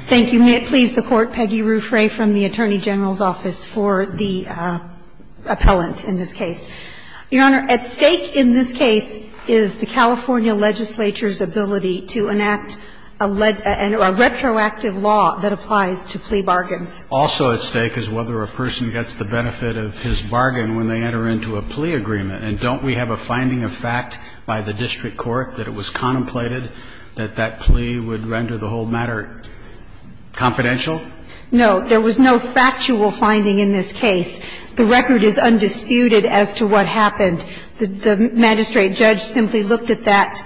Thank you. May it please the Court, Peggy Ruffray from the Attorney General's Office for the appellant in this case. Your Honor, at stake in this case is the California legislature's ability to enact a retroactive law that applies to plea bargains. Also at stake is whether a person gets the benefit of his bargain when they enter into a plea agreement. And don't we have a finding of fact by the district court that it was contemplated that that plea would render the whole matter confidential? No. There was no factual finding in this case. The record is undisputed as to what happened. The magistrate judge simply looked at that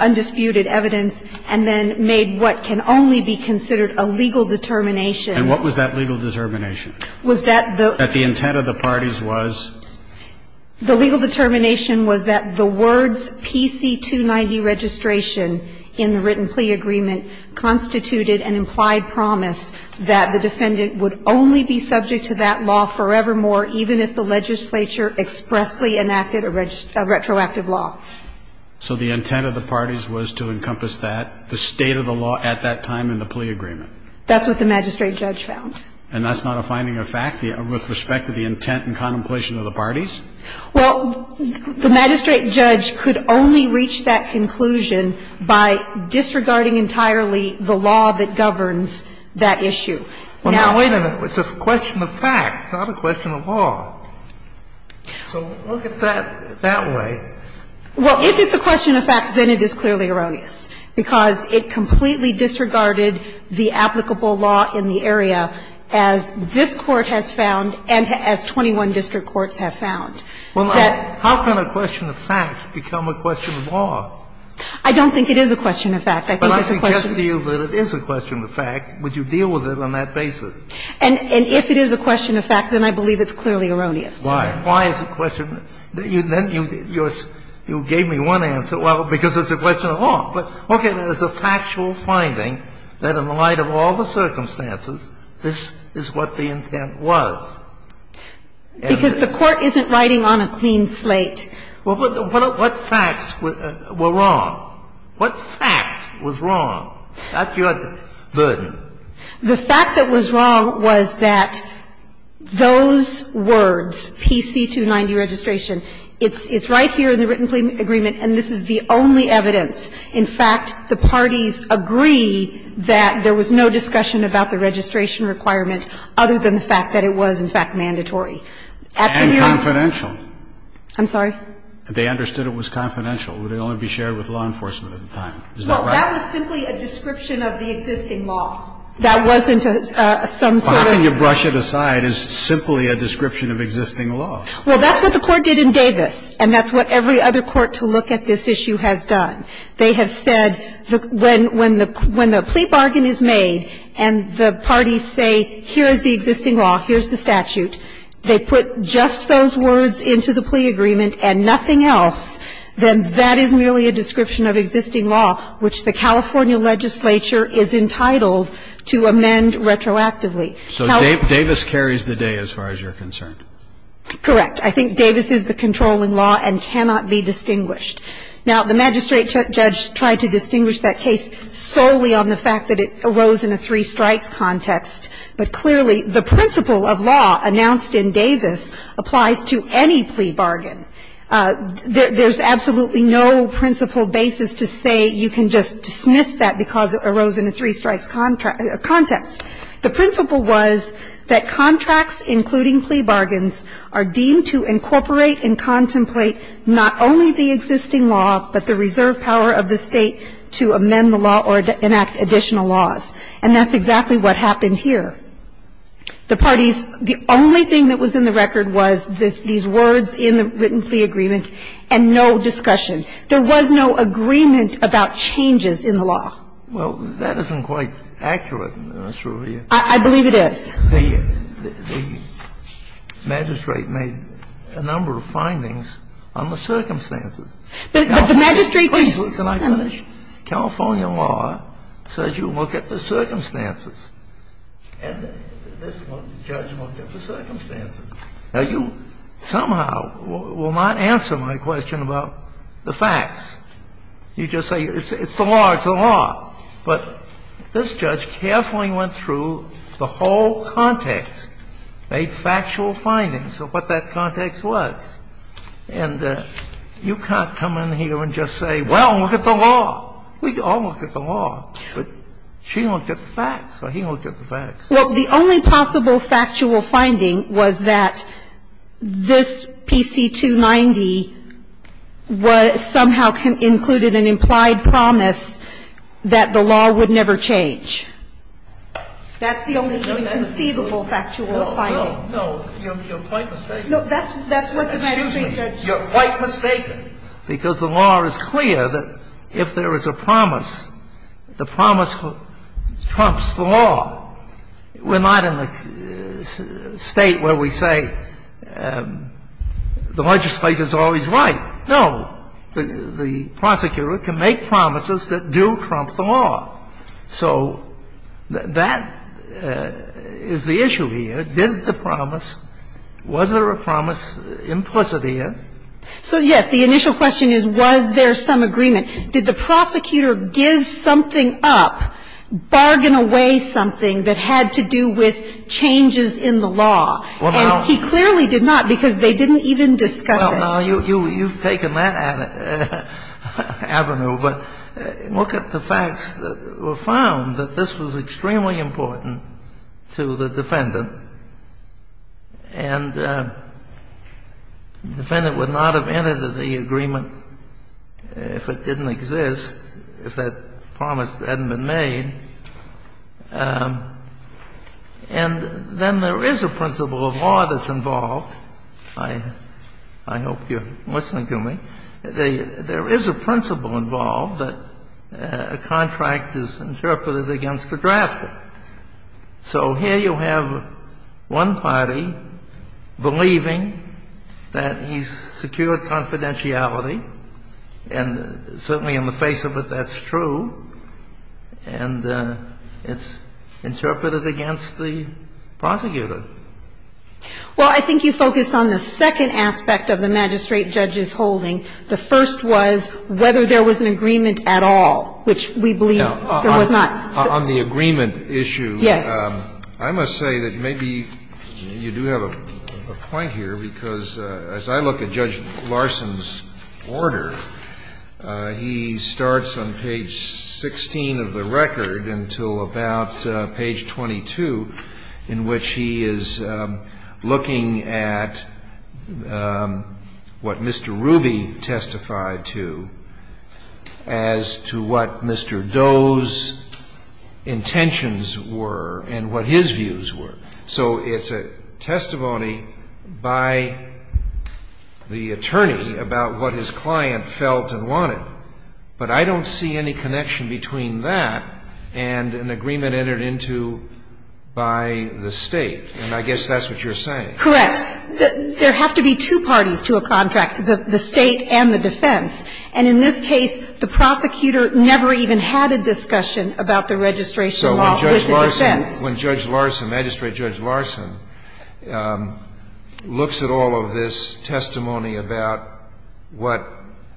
undisputed evidence and then made what can only be considered a legal determination. And what was that legal determination? Was that the intent of the parties was? The legal determination was that the words PC 290 registration in the written plea agreement constituted an implied promise that the defendant would only be subject to that law forevermore, even if the legislature expressly enacted a retroactive law. So the intent of the parties was to encompass that, the state of the law at that time in the plea agreement. That's what the magistrate judge found. And that's not a finding of fact with respect to the intent and contemplation of the parties? Well, the magistrate judge could only reach that conclusion by disregarding entirely the law that governs that issue. Now the question of fact, not a question of law. So look at that that way. Well, if it's a question of fact, then it is clearly erroneous, because it completely disregarded the applicable law in the area, as this Court has found and as 21 district courts have found. That How can a question of fact become a question of law? I don't think it is a question of fact. I think it's a question of fact. But I suggest to you that it is a question of fact. Would you deal with it on that basis? And if it is a question of fact, then I believe it's clearly erroneous. Why? Why is it a question of fact? Then you gave me one answer. Well, because it's a question of law. But, okay, there's a factual finding that in the light of all the circumstances, this is what the intent was. Because the Court isn't writing on a clean slate. Well, but what facts were wrong? What fact was wrong? That's your burden. The fact that was wrong was that those words, PC290 registration, it's right here in the written agreement, and this is the only evidence. In fact, the parties agree that there was no discussion about the registration requirement other than the fact that it was, in fact, mandatory. And confidential. I'm sorry? They understood it was confidential. It would only be shared with law enforcement at the time. Is that right? Well, that was simply a description of the existing law. That wasn't some sort of How can you brush it aside as simply a description of existing law? Well, that's what the Court did in Davis, and that's what every other court to look at this issue has done. They have said when the plea bargain is made and the parties say, here is the existing law, here's the statute, they put just those words into the plea agreement and nothing else, then that is merely a description of existing law, which the California legislature is entitled to amend retroactively. So Davis carries the day as far as you're concerned. Correct. I think Davis is the controlling law and cannot be distinguished. Now, the magistrate judge tried to distinguish that case solely on the fact that it arose in a three-strikes context. But clearly, the principle of law announced in Davis applies to any plea bargain. There's absolutely no principle basis to say you can just dismiss that because it arose in a three-strikes context. The principle was that contracts, including plea bargains, are deemed to incorporate and contemplate not only the existing law, but the reserve power of the State to amend the law or enact additional laws, and that's exactly what happened here. The parties, the only thing that was in the record was these words in the written plea agreement and no discussion. There was no agreement about changes in the law. Well, that isn't quite accurate, Ms. Rubio. I believe it is. The magistrate made a number of findings on the circumstances. But the magistrate did not. Can I finish? California law says you look at the circumstances, and this judge looked at the circumstances. Now, you somehow will not answer my question about the facts. You just say it's the law, it's the law. But this judge carefully went through the whole context, made factual findings of what that context was. And you can't come in here and just say, well, look at the law. We all looked at the law, but she looked at the facts or he looked at the facts. Well, the only possible factual finding was that this PC-290 was somehow included an implied promise that the law would never change. That's the only conceivable factual finding. No, no, no. You're quite mistaken. No, that's what the magistrate said. Excuse me. You're quite mistaken, because the law is clear that if there is a promise, the promise trumps the law. We're not in a State where we say the legislature is always right. No. The prosecutor can make promises that do trump the law. So that is the issue here. Did the promise, was there a promise implicit here? So, yes. The initial question is, was there some agreement? Did the prosecutor give something up, bargain away something that had to do with changes in the law? And he clearly did not, because they didn't even discuss it. Well, now, you've taken that avenue. But look at the facts that were found, that this was extremely important to the defendant. And the defendant would not have entered the agreement if it didn't exist, if that promise hadn't been made. And then there is a principle of law that's involved. I hope you're listening to me. There is a principle involved that a contract is interpreted against the drafter. So here you have one party believing that he's secured confidentiality, and certainly in the face of it, that's true. And it's interpreted against the prosecutor. Well, I think you focused on the second aspect of the magistrate judge's holding. The first was whether there was an agreement at all, which we believe there was not. On the agreement issue, I must say that maybe you do have a point here, because as I look at Judge Larson's order, he starts on page 16 of the record until about page 22, in which he is looking at what Mr. Ruby testified to as to what Mr. Doe's intentions were and what his views were. So it's a testimony by the attorney about what his client felt and wanted. But I don't see any connection between that and an agreement entered into by the State. And I guess that's what you're saying. Correct. There have to be two parties to a contract, the State and the defense. And in this case, the prosecutor never even had a discussion about the registration law with defense. So when Judge Larson, magistrate Judge Larson, looks at all of this testimony about what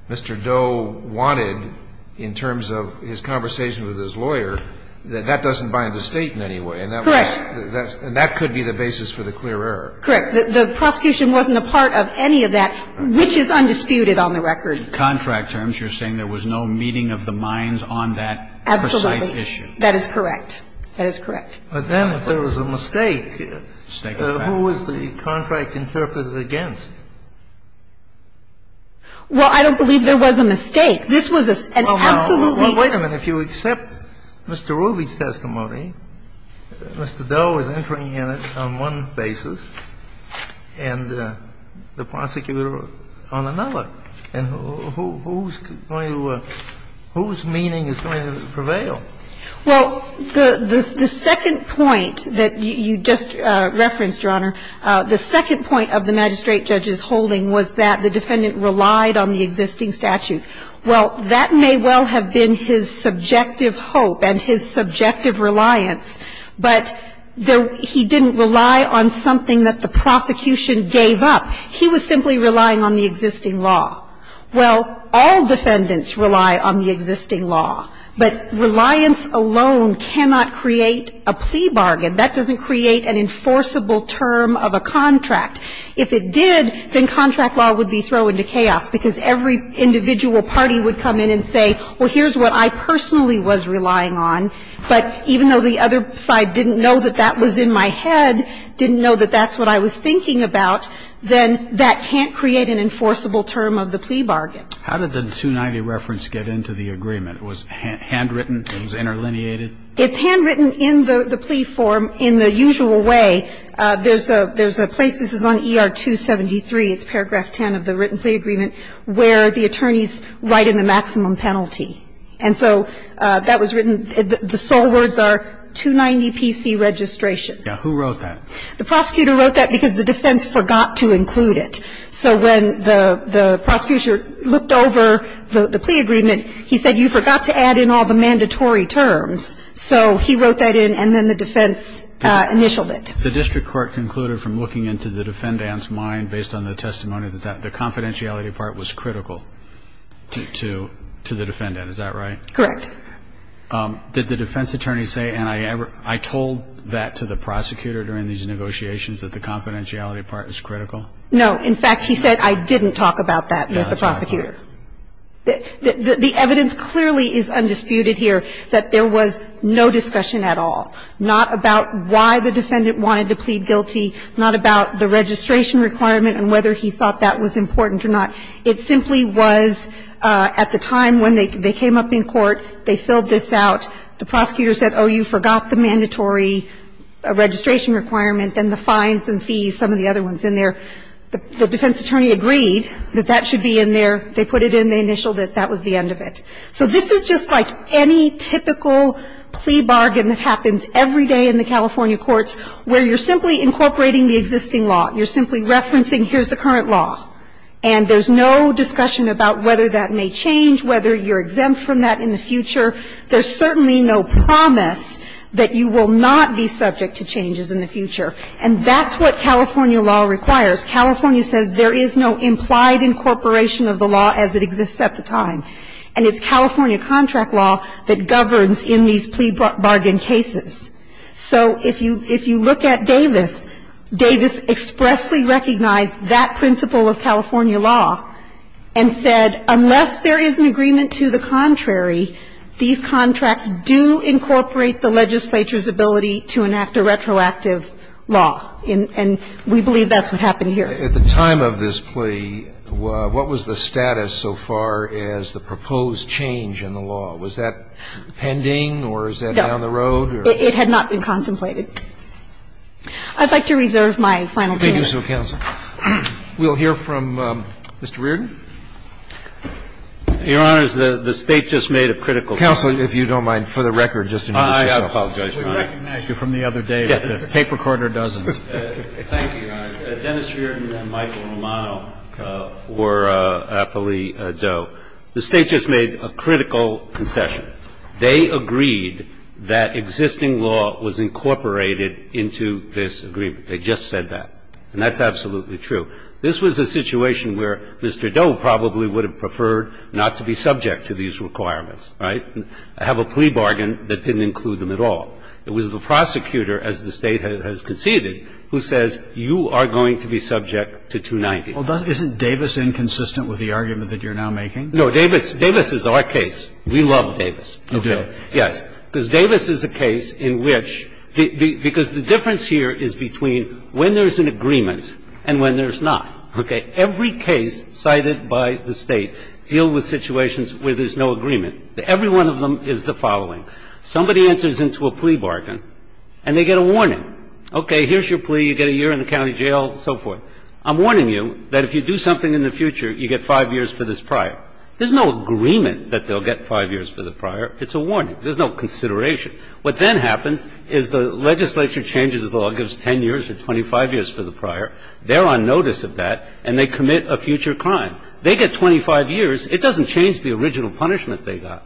Mr. Doe wanted in terms of his conversation with his lawyer, that that doesn't bind the State in any way. Correct. And that could be the basis for the clear error. Correct. The prosecution wasn't a part of any of that, which is undisputed on the record. But in contract terms, you're saying there was no meeting of the minds on that precise issue. Absolutely. That is correct. That is correct. But then if there was a mistake, who was the contract interpreted against? Well, I don't believe there was a mistake. This was an absolutely. Well, wait a minute. If you accept Mr. Ruby's testimony, Mr. Doe is entering in it on one basis and the other basis is that the defendant relied on the existing statute. So who's going to – whose meaning is going to prevail? Well, the second point that you just referenced, Your Honor, the second point of the magistrate judge's holding was that the defendant relied on the existing statute. Well, that may well have been his subjective hope and his subjective reliance, but he didn't rely on something that the prosecution gave up. He was simply relying on the existing law. Well, all defendants rely on the existing law. But reliance alone cannot create a plea bargain. That doesn't create an enforceable term of a contract. If it did, then contract law would be thrown into chaos because every individual party would come in and say, well, here's what I personally was relying on, but even though the other side didn't know that that was in my head, didn't know that that's what I was thinking about, then that can't create an enforceable term of the plea bargain. How did the 290 reference get into the agreement? It was handwritten? It was interlineated? It's handwritten in the plea form in the usual way. There's a place, this is on ER-273, it's paragraph 10 of the written plea agreement, where the attorneys write in the maximum penalty. And so that was written, the sole words are 290 P.C. registration. Now, who wrote that? The prosecutor wrote that because the defense forgot to include it. So when the prosecutor looked over the plea agreement, he said, you forgot to add in all the mandatory terms. So he wrote that in and then the defense initialed it. The district court concluded from looking into the defendant's mind based on the testimony that the confidentiality part was critical to the defendant, is that right? Correct. Did the defense attorney say, and I told that to the prosecutor during these negotiations, that the confidentiality part was critical? No. In fact, he said, I didn't talk about that with the prosecutor. The evidence clearly is undisputed here that there was no discussion at all, not about why the defendant wanted to plead guilty, not about the registration requirement and whether he thought that was important or not. It simply was at the time when they came up in court, they filled this out. The prosecutor said, oh, you forgot the mandatory registration requirement and the fines and fees, some of the other ones in there. The defense attorney agreed that that should be in there. They put it in. They initialed it. That was the end of it. So this is just like any typical plea bargain that happens every day in the California courts, where you're simply incorporating the existing law. You're simply referencing, here's the current law. And there's no discussion about whether that may change, whether you're exempt from that in the future. There's certainly no promise that you will not be subject to changes in the future. And that's what California law requires. California says there is no implied incorporation of the law as it exists at the time. And it's California contract law that governs in these plea bargain cases. So if you look at Davis, Davis expressly recognized that principle of California law and said, unless there is an agreement to the contrary, these contracts do incorporate the legislature's ability to enact a retroactive law. And we believe that's what happened here. At the time of this plea, what was the status so far as the proposed change in the law? Was that pending or is that down the road? No. It had not been contemplated. I'd like to reserve my final two minutes. Thank you, counsel. We'll hear from Mr. Reardon. Your Honor, the State just made a critical comment. Counsel, if you don't mind, for the record, just in case. I apologize, Your Honor. We recognize you from the other day, but the tape recorder doesn't. Thank you, Your Honor. Dennis Reardon and Michael Romano for Appley Doe. The State just made a critical concession. They agreed that existing law was incorporated into this agreement. They just said that. And that's absolutely true. This was a situation where Mr. Doe probably would have preferred not to be subject to these requirements, right, have a plea bargain that didn't include them at all. It was the prosecutor, as the State has conceded, who says you are going to be subject to 290. Well, isn't Davis inconsistent with the argument that you're now making? No. Davis is our case. We love Davis. Okay. Yes. Because Davis is a case in which the – because the difference here is between when there's an agreement and when there's not. Okay. Every case cited by the State deal with situations where there's no agreement. Every one of them is the following. Somebody enters into a plea bargain and they get a warning. Okay, here's your plea. You get a year in the county jail, so forth. I'm warning you that if you do something in the future, you get 5 years for this prior. There's no agreement that they'll get 5 years for the prior. It's a warning. There's no consideration. What then happens is the legislature changes the law and gives 10 years or 25 years for the prior. They're on notice of that and they commit a future crime. They get 25 years. It doesn't change the original punishment they got.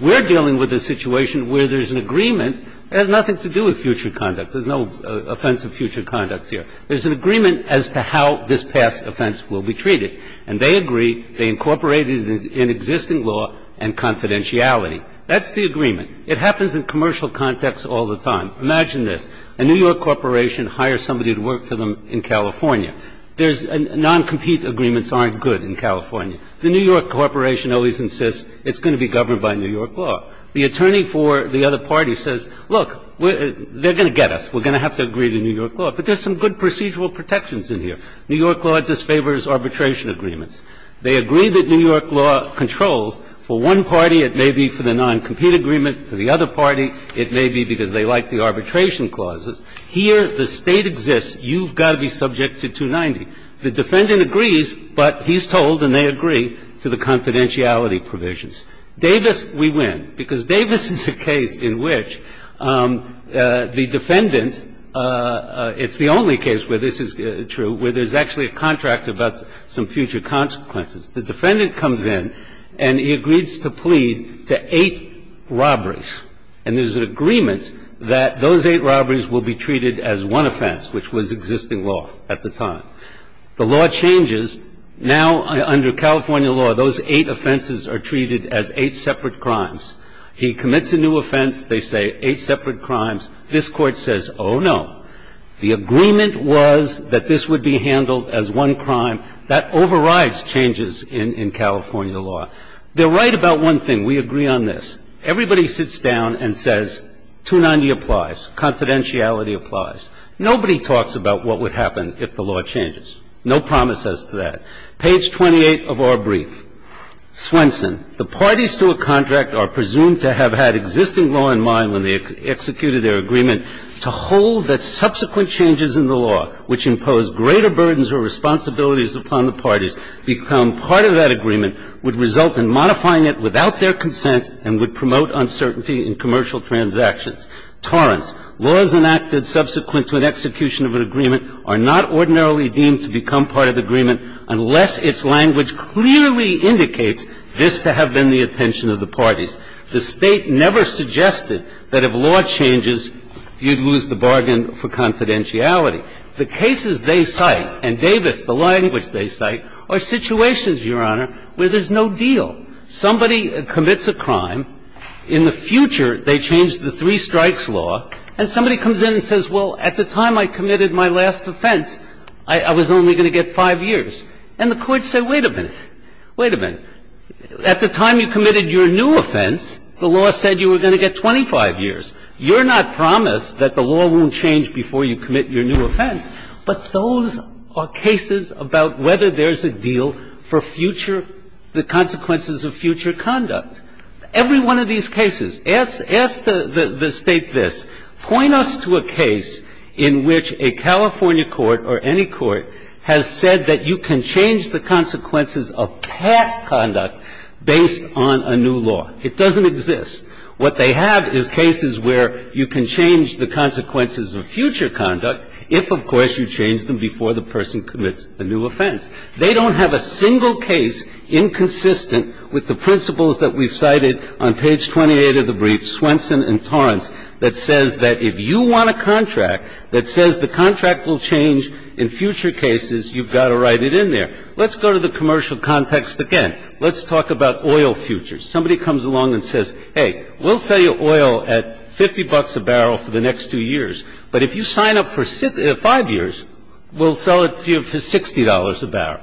We're dealing with a situation where there's an agreement. It has nothing to do with future conduct. There's no offense of future conduct here. There's an agreement as to how this past offense will be treated. And they agree. They incorporate it in existing law and confidentiality. That's the agreement. It happens in commercial context all the time. Imagine this. A New York corporation hires somebody to work for them in California. There's – non-compete agreements aren't good in California. The New York corporation always insists it's going to be governed by New York law. The attorney for the other party says, look, they're going to get us. We're going to have to agree to New York law. But there's some good procedural protections in here. New York law disfavors arbitration agreements. They agree that New York law controls. For one party, it may be for the non-compete agreement. For the other party, it may be because they like the arbitration clauses. Here, the State exists. You've got to be subject to 290. The defendant agrees, but he's told and they agree to the confidentiality provisions. Davis, we win, because Davis is a case in which the defendant – it's the only case where this is true – where there's actually a contract about some future consequences. The defendant comes in and he agrees to plead to eight robberies. And there's an agreement that those eight robberies will be treated as one offense, which was existing law at the time. The law changes. Now, under California law, those eight offenses are treated as eight separate crimes. He commits a new offense. They say eight separate crimes. This Court says, oh, no. The agreement was that this would be handled as one crime. That overrides changes in California law. They're right about one thing. We agree on this. Everybody sits down and says, 290 applies. Confidentiality applies. Nobody talks about what would happen if the law changes. No promise as to that. Page 28 of our brief. Swenson. The parties to a contract are presumed to have had existing law in mind when they executed their agreement to hold that subsequent changes in the law, which impose greater burdens or responsibilities upon the parties, become part of that agreement, would result in modifying it without their consent and would promote uncertainty in commercial transactions. Torrance. Laws enacted subsequent to an execution of an agreement are not ordinarily deemed to become part of the agreement unless its language clearly indicates this to have been the attention of the parties. The State never suggested that if law changes, you'd lose the bargain for confidentiality. The cases they cite, and Davis, the language they cite, are situations, Your Honor, where there's no deal. Somebody commits a crime. In the future, they change the three strikes law. And somebody comes in and says, well, at the time I committed my last offense, I was only going to get five years. And the courts say, wait a minute. Wait a minute. At the time you committed your new offense, the law said you were going to get 25 years. You're not promised that the law won't change before you commit your new offense, but those are cases about whether there's a deal for future, the consequences of future conduct. Every one of these cases. Ask the State this. Point us to a case in which a California court or any court has said that you can change the consequences of past conduct based on a new law. It doesn't exist. What they have is cases where you can change the consequences of future conduct if, of course, you change them before the person commits a new offense. They don't have a single case inconsistent with the principles that we've cited on page 28 of the brief, Swenson and Torrance, that says that if you want a contract that says the contract will change in future cases, you've got to write it in there. Let's go to the commercial context again. Let's talk about oil futures. Somebody comes along and says, hey, we'll sell you oil at 50 bucks a barrel for the next two years, but if you sign up for five years, we'll sell it to you for $60 a barrel.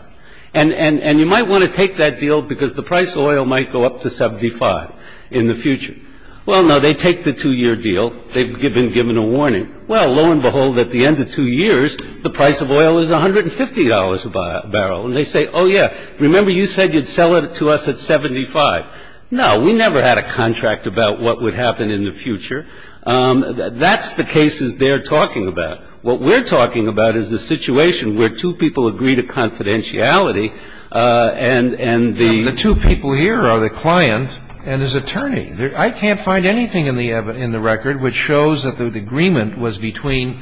And you might want to take that deal because the price of oil might go up to 75 in the future. Well, no, they take the two-year deal. They've been given a warning. Well, lo and behold, at the end of two years, the price of oil is $150 a barrel. And they say, oh, yeah, remember you said you'd sell it to us at 75. No, we never had a contract about what would happen in the future. That's the cases they're talking about. Now, what we're talking about is the situation where two people agree to confidentiality and the two people here are the client and his attorney. I can't find anything in the record which shows that the agreement was between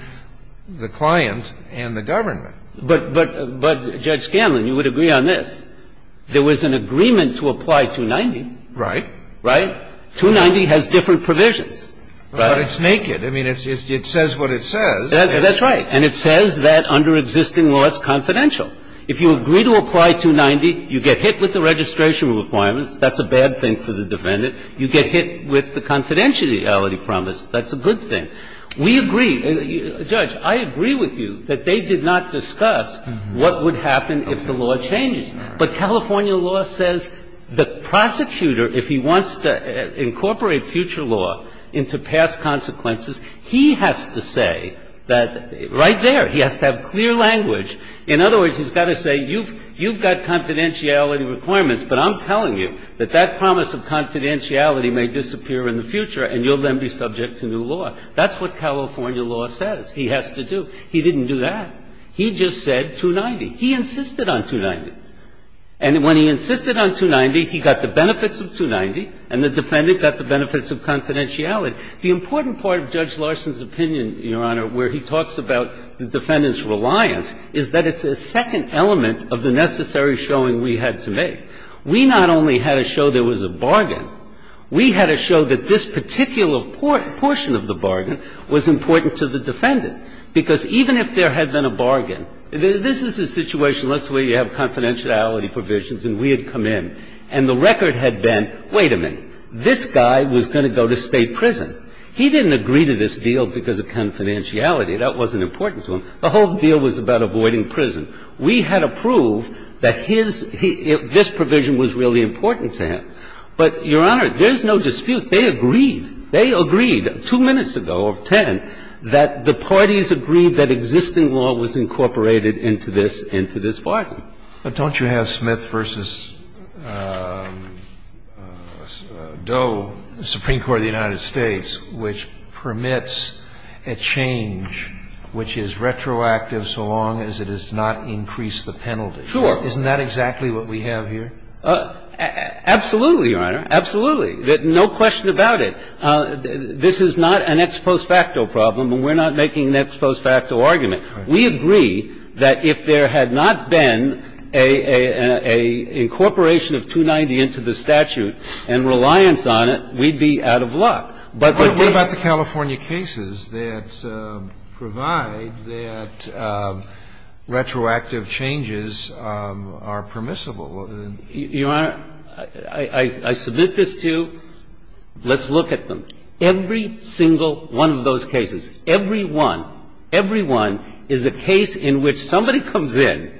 the client and the government. But, Judge Scanlon, you would agree on this. There was an agreement to apply 290. Right. Right? 290 has different provisions. But it's naked. I mean, it says what it says. That's right. And it says that under existing law it's confidential. If you agree to apply 290, you get hit with the registration requirements. That's a bad thing for the defendant. You get hit with the confidentiality promise. That's a good thing. We agree. Judge, I agree with you that they did not discuss what would happen if the law changed. But California law says the prosecutor, if he wants to incorporate future law into past consequences, he has to say that right there, he has to have clear language. In other words, he's got to say you've got confidentiality requirements, but I'm telling you that that promise of confidentiality may disappear in the future and you'll then be subject to new law. That's what California law says he has to do. He didn't do that. He just said 290. He insisted on 290. And when he insisted on 290, he got the benefits of 290 and the defendant got the benefits of confidentiality. The important part of Judge Larson's opinion, Your Honor, where he talks about the defendant's reliance, is that it's a second element of the necessary showing we had to make. We not only had to show there was a bargain, we had to show that this particular portion of the bargain was important to the defendant. Because even if there had been a bargain, this is a situation, let's say you have confidentiality provisions and we had come in and the record had been, wait a minute, this guy was going to go to state prison. He didn't agree to this deal because of confidentiality. That wasn't important to him. The whole deal was about avoiding prison. We had to prove that his – this provision was really important to him. But, Your Honor, there is no dispute. They agreed. They agreed two minutes ago, or 10, that the parties agreed that existing law was incorporated into this – into this bargain. But don't you have Smith v. Doe, the Supreme Court of the United States, which permits a change which is retroactive so long as it does not increase the penalty? Sure. Isn't that exactly what we have here? Absolutely, Your Honor. Absolutely. No question about it. This is not an ex post facto problem, and we're not making an ex post facto argument. We agree that if there had not been a – a – a incorporation of 290 into the statute and reliance on it, we'd be out of luck. But they didn't. But what about the California cases that provide that retroactive changes are permissible? Your Honor, I – I submit this to, let's look at them. Every single one of those cases, every one, every one is a case in which somebody comes in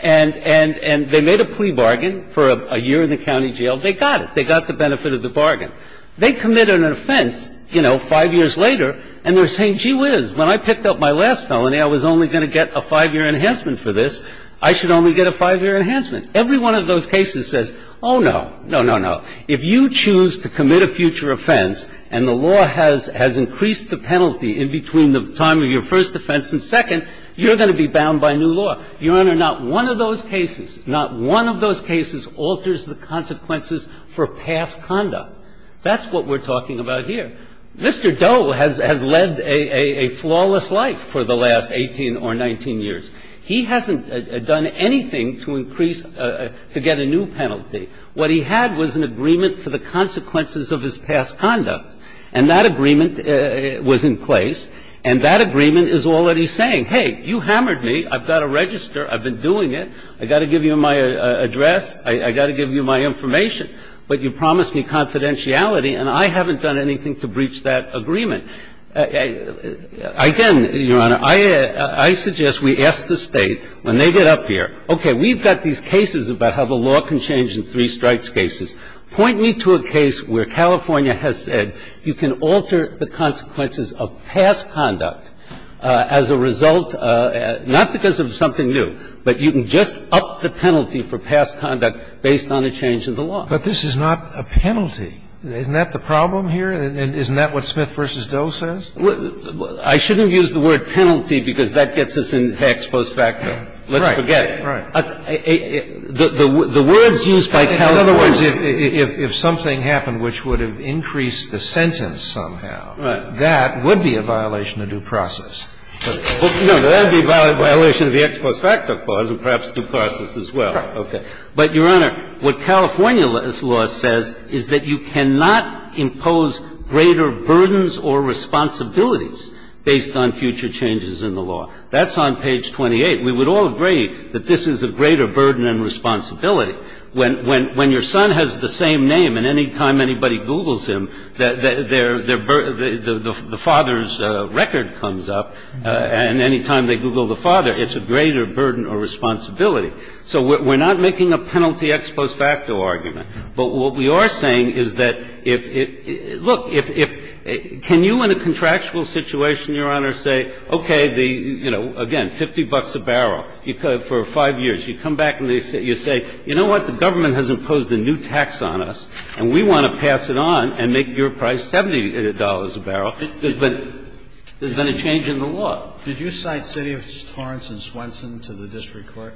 and – and – and they made a plea bargain for a year in the county jail. They got it. They got the benefit of the bargain. They commit an offense, you know, 5 years later, and they're saying, gee whiz, when I picked up my last felony, I was only going to get a 5-year enhancement for this. I should only get a 5-year enhancement. Every one of those cases says, oh, no. No, no, no. If you choose to commit a future offense and the law has – has increased the penalty in between the time of your first offense and second, you're going to be bound by new law. Your Honor, not one of those cases, not one of those cases alters the consequences for past conduct. That's what we're talking about here. Mr. Doe has – has led a – a flawless life for the last 18 or 19 years. He hasn't done anything to increase – to get a new penalty. What he had was an agreement for the consequences of his past conduct. And that agreement was in place, and that agreement is all that he's saying. Hey, you hammered me. I've got to register. I've been doing it. I've got to give you my address. I've got to give you my information. But you promised me confidentiality, and I haven't done anything to breach that agreement. Again, Your Honor, I – I suggest we ask the State, when they get up here, okay, we've got these cases about how the law can change in three strikes cases. Point me to a case where California has said you can alter the consequences of past conduct as a result, not because of something new, but you can just up the penalty for past conduct based on a change in the law. But this is not a penalty. Isn't that the problem here? Isn't that what Smith v. Doe says? I shouldn't have used the word penalty because that gets us in Hacks post facto. Let's forget it. Right. The words used by California – In other words, if something happened which would have increased the sentence somehow, that would be a violation of due process. No, that would be a violation of the Hacks post facto clause and perhaps due process as well. Right. Okay. But, Your Honor, what California's law says is that you cannot impose greater burdens or responsibilities based on future changes in the law. That's on page 28. We would all agree that this is a greater burden and responsibility. When your son has the same name and any time anybody Googles him, the father's record comes up, and any time they Google the father, it's a greater burden or responsibility. So we're not making a penalty ex post facto argument. But what we are saying is that if – look, can you in a contractual situation, Your Honor, say, okay, the – you know, again, 50 bucks a barrel for 5 years. You come back and you say, you know what, the government has imposed a new tax on us and we want to pass it on and make your price $70 a barrel. There's been a change in the law. Did you cite City of Torrance and Swenson to the district court?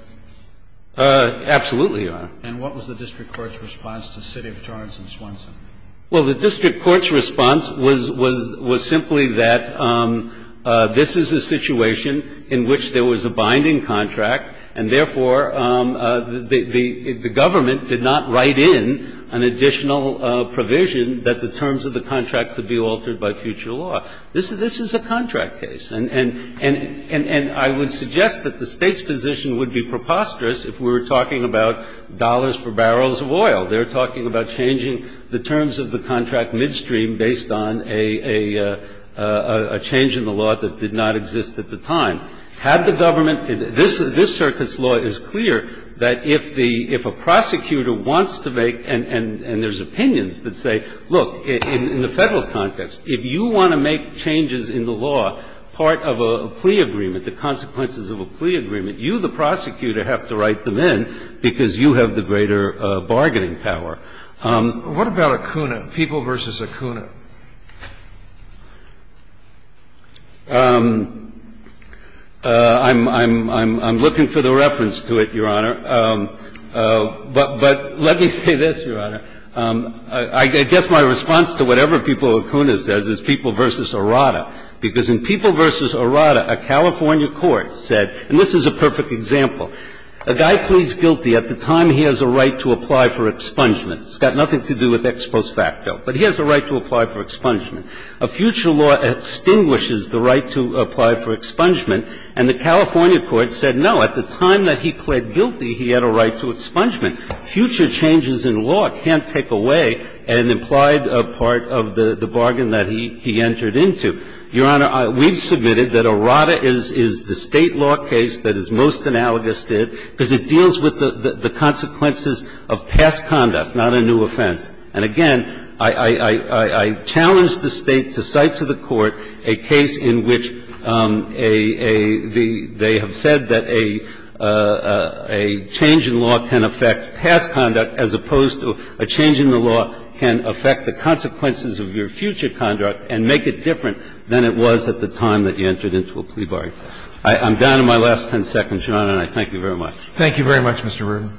Absolutely, Your Honor. And what was the district court's response to City of Torrance and Swenson? Well, the district court's response was simply that this is a situation in which there was a binding contract, and therefore, the government did not write in an additional provision that the terms of the contract could be altered by future law. This is a contract case. And I would suggest that the State's position would be preposterous if we were talking about dollars for barrels of oil. They're talking about changing the terms of the contract midstream based on a change in the law that did not exist at the time. Had the government – this circuit's law is clear that if the – if a prosecutor wants to make – and there's opinions that say, look, in the Federal context, if you want to make changes in the law part of a plea agreement, the consequences of a plea agreement, you, the prosecutor, have to write them in because you have the greater bargaining power. What about Acuna, People v. Acuna? I'm looking for the reference to it, Your Honor. But let me say this, Your Honor. I guess my response to whatever People v. Acuna says is People v. Arada, because in People v. Arada, a California court said – and this is a perfect example. A guy pleads guilty at the time he has a right to apply for expungement. It's got nothing to do with ex post facto, but he has a right to apply for expungement. A future law extinguishes the right to apply for expungement, and the California court said, no, at the time that he pled guilty, he had a right to expungement. Future changes in law can't take away an implied part of the bargain that he entered into. Your Honor, we've submitted that Arada is the State law case that is most analogous to it because it deals with the consequences of past conduct, not a new offense. And again, I challenge the State to cite to the Court a case in which a – they have said that a change in law can affect past conduct as opposed to a change in the law can affect the consequences of your future conduct and make it different than it was at the time that you entered into a plea bargain. I'm down to my last 10 seconds, Your Honor, and I thank you very much. Roberts. Thank you very much, Mr. Rubin.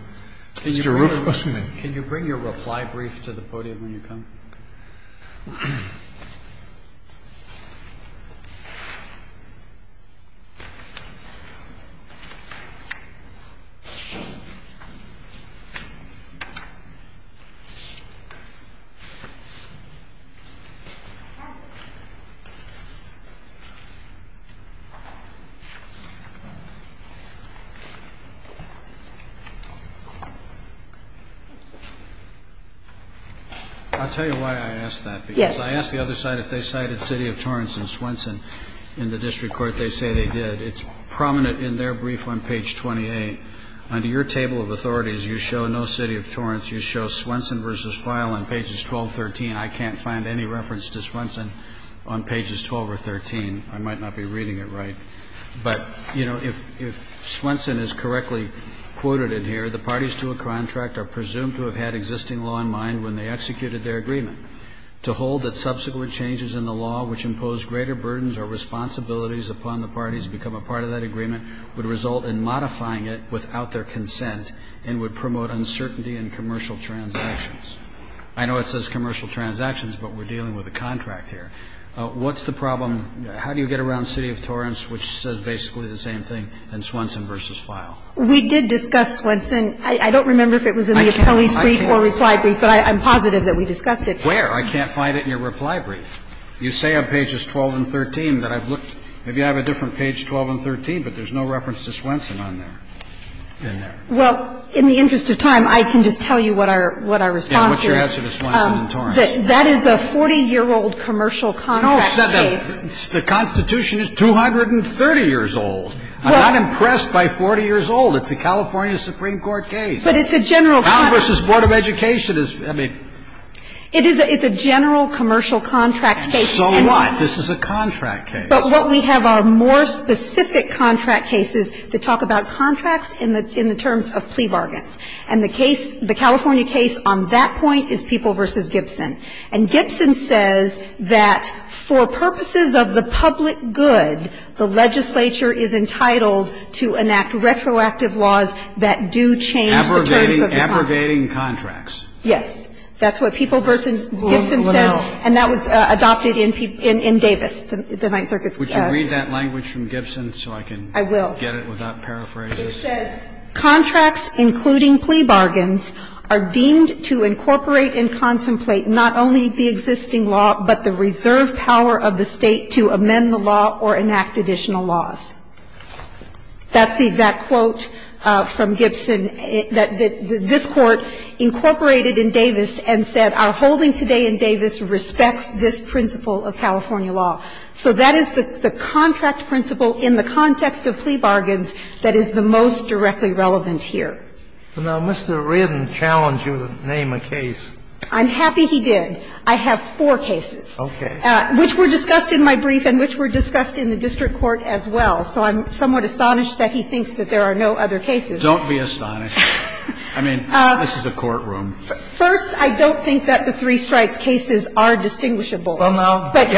Mr. Roof. Can you bring your reply brief to the podium when you come? I'll tell you why I asked that, because I asked the other side if they cited City of Torrance and Swenson in the district court. They say they did. It's prominent in their brief on page 28. Under your table of authorities, you show no City of Torrance. You show Swenson v. Fyle on pages 12, 13. I can't find any reference to Swenson on pages 12 or 13. I might not be reading it right. But, you know, if – if Swenson is correctly quoted in here, the parties to a contract are presumed to have had existing law in mind when they executed their agreement. To hold that subsequent changes in the law which impose greater burdens or responsibilities upon the parties to become a part of that agreement would result in modifying it without their consent and would promote uncertainty in commercial transactions. I know it says commercial transactions, but we're dealing with a contract here. What's the problem – how do you get around City of Torrance, which says basically the same thing, and Swenson v. Fyle? We did discuss Swenson. I don't remember if it was in the appellee's brief or reply brief, but I'm positive that we discussed it. Where? I can't find it in your reply brief. You say on pages 12 and 13 that I've looked. Maybe I have a different page 12 and 13, but there's no reference to Swenson on there, in there. Well, in the interest of time, I can just tell you what our – what our response is. And what's your answer to Swenson v. Torrance? That is a 40-year-old commercial contract case. No, but the Constitution is 230 years old. I'm not impressed by 40 years old. It's a California Supreme Court case. But it's a general – Brown v. Board of Education is – I mean – It is a – it's a general commercial contract case. So what? This is a contract case. But what we have are more specific contract cases that talk about contracts in the – in the terms of plea bargains. And the case – the California case on that point is People v. Gibson. And Gibson says that for purposes of the public good, the legislature is entitled to enact retroactive laws that do change the terms of the contract. Abrogating – abrogating contracts. Yes. That's what People v. Gibson says. And that was adopted in Davis, the Ninth Circuit's – Would you read that language from Gibson so I can get it without paraphrases? I will. It says, "...contracts, including plea bargains, are deemed to incorporate and contemplate not only the existing law, but the reserve power of the State to amend the law or enact additional laws." That's the exact quote from Gibson. This Court incorporated in Davis and said, "...our holding today in Davis respects this principle of California law." So that is the contract principle in the context of plea bargains that is the most directly relevant here. Now, Mr. Ridden challenged you to name a case. I'm happy he did. I have four cases. Okay. Which were discussed in my brief and which were discussed in the district court as well. So I'm somewhat astonished that he thinks that there are no other cases. Don't be astonished. I mean, this is a courtroom. First, I don't think that the three strikes cases are distinguishable. Well, no. But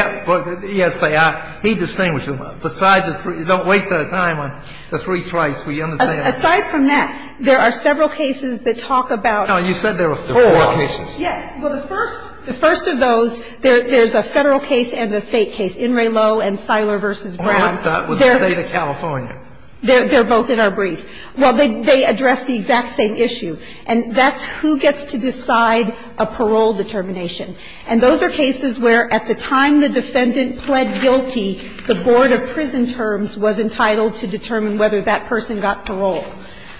yes, they are. He distinguished them. Besides the three – don't waste our time on the three strikes. Will you understand? Aside from that, there are several cases that talk about – No. You said there were four cases. Yes. Well, the first – the first of those, there's a Federal case and a State case. In re lo and Siler v. Brown. The State of California. They're both in our brief. Well, they address the exact same issue. And that's who gets to decide a parole determination. And those are cases where at the time the defendant pled guilty, the board of prison terms was entitled to determine whether that person got parole.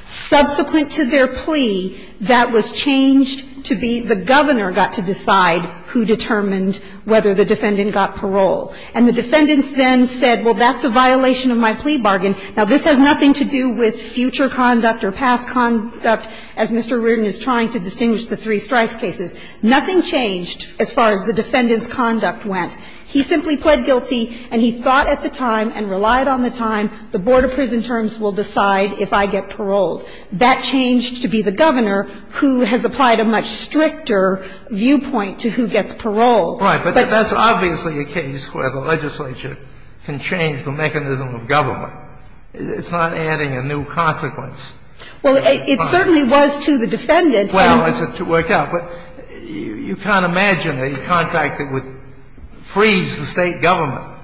Subsequent to their plea, that was changed to be the governor got to decide who determined whether the defendant got parole. And the defendants then said, well, that's a violation of my plea bargain. Now, this has nothing to do with future conduct or past conduct, as Mr. Reardon is trying to distinguish the three strikes cases. Nothing changed as far as the defendant's conduct went. He simply pled guilty and he thought at the time and relied on the time the board of prison terms will decide if I get paroled. That changed to be the governor who has applied a much stricter viewpoint to who gets parole. Right. But that's obviously a case where the legislature can change the mechanism of government. It's not adding a new consequence. Well, it certainly was to the defendant. Well, as it turned out. But you can't imagine a contract that would freeze the State government.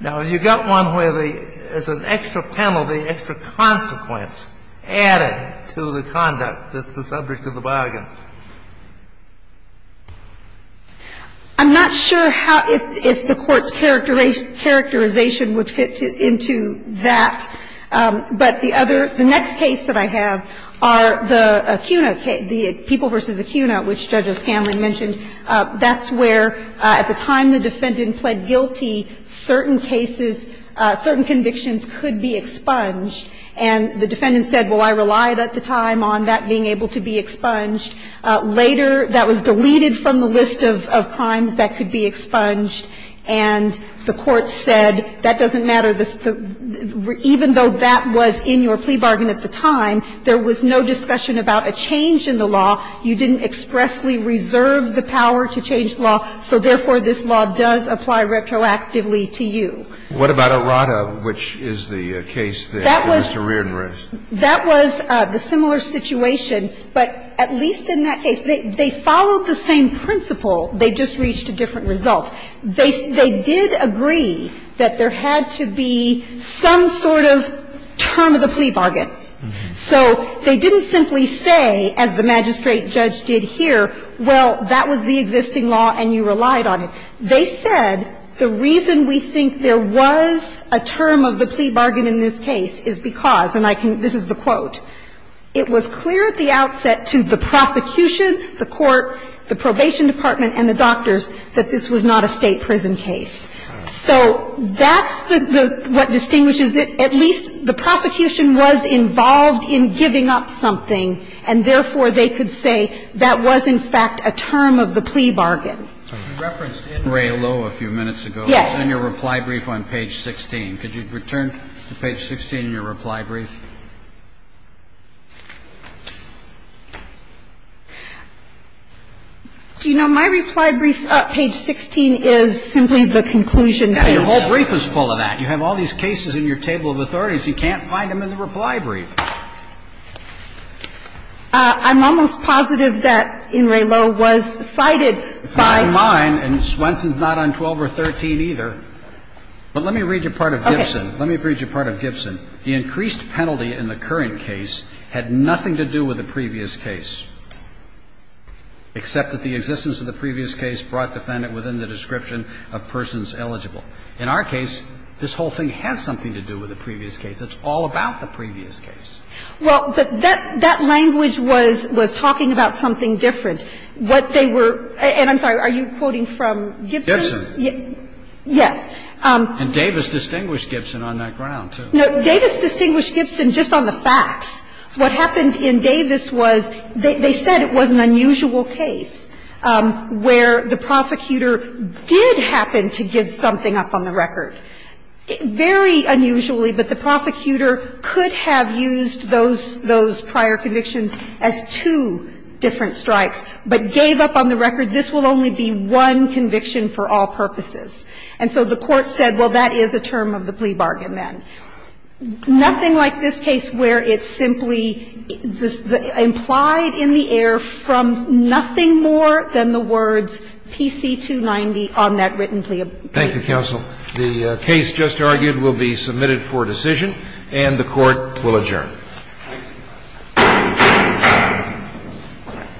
Now, you've got one where there's an extra penalty, extra consequence added to the conduct that's the subject of the bargain. I'm not sure how the Court's characterization would fit into that, but the other the next case that I have are the Acuna, the People v. Acuna, which Judge O'Scanlan mentioned. That's where, at the time the defendant pled guilty, certain cases, certain convictions could be expunged. And the defendant said, well, I relied at the time on that being able to be expunged. Later, that was deleted from the list of crimes that could be expunged. And the Court said, that doesn't matter. Even though that was in your plea bargain at the time, there was no discussion about a change in the law. You didn't expressly reserve the power to change the law. So therefore, this law does apply retroactively to you. What about Arrata, which is the case that Mr. Reardon raised? That was the similar situation, but at least in that case, they followed the same principle. They just reached a different result. They did agree that there had to be some sort of term of the plea bargain. So they didn't simply say, as the magistrate judge did here, well, that was the existing law and you relied on it. They said the reason we think there was a term of the plea bargain in this case is because it was clear at the outset to the prosecution, the court, the probation department and the doctors that this was not a State prison case. So that's what distinguishes it. At least the prosecution was involved in giving up something, and therefore, they could say that was, in fact, a term of the plea bargain. Roberts, in Ray Lowe a few minutes ago, in your reply brief on page 16. Could you return to page 16 in your reply brief? Do you know, my reply brief, page 16, is simply the conclusion page. Now, your whole brief is full of that. You have all these cases in your table of authorities. You can't find them in the reply brief. I'm almost positive that in Ray Lowe was cited by. It's not in mine, and Swenson's not on 12 or 13 either. But let me read you part of Gibson. Let me read you part of Gibson. The increased penalty in the current case had nothing to do with the previous case, except that the existence of the previous case brought defendant within the description of persons eligible. In our case, this whole thing has something to do with the previous case. It's all about the previous case. Well, but that language was talking about something different. What they were – and I'm sorry, are you quoting from Gibson? Gibson. Yes. And Davis distinguished Gibson on that ground, too. No. Davis distinguished Gibson just on the facts. What happened in Davis was they said it was an unusual case where the prosecutor did happen to give something up on the record, very unusually, but the prosecutor could have used those prior convictions as two different strikes, but gave up on the record. This will only be one conviction for all purposes. And so the Court said, well, that is a term of the plea bargain then. Nothing like this case where it's simply implied in the air from nothing more than the words PC-290 on that written plea. Thank you, counsel. The case just argued will be submitted for decision, and the Court will adjourn. Thank you.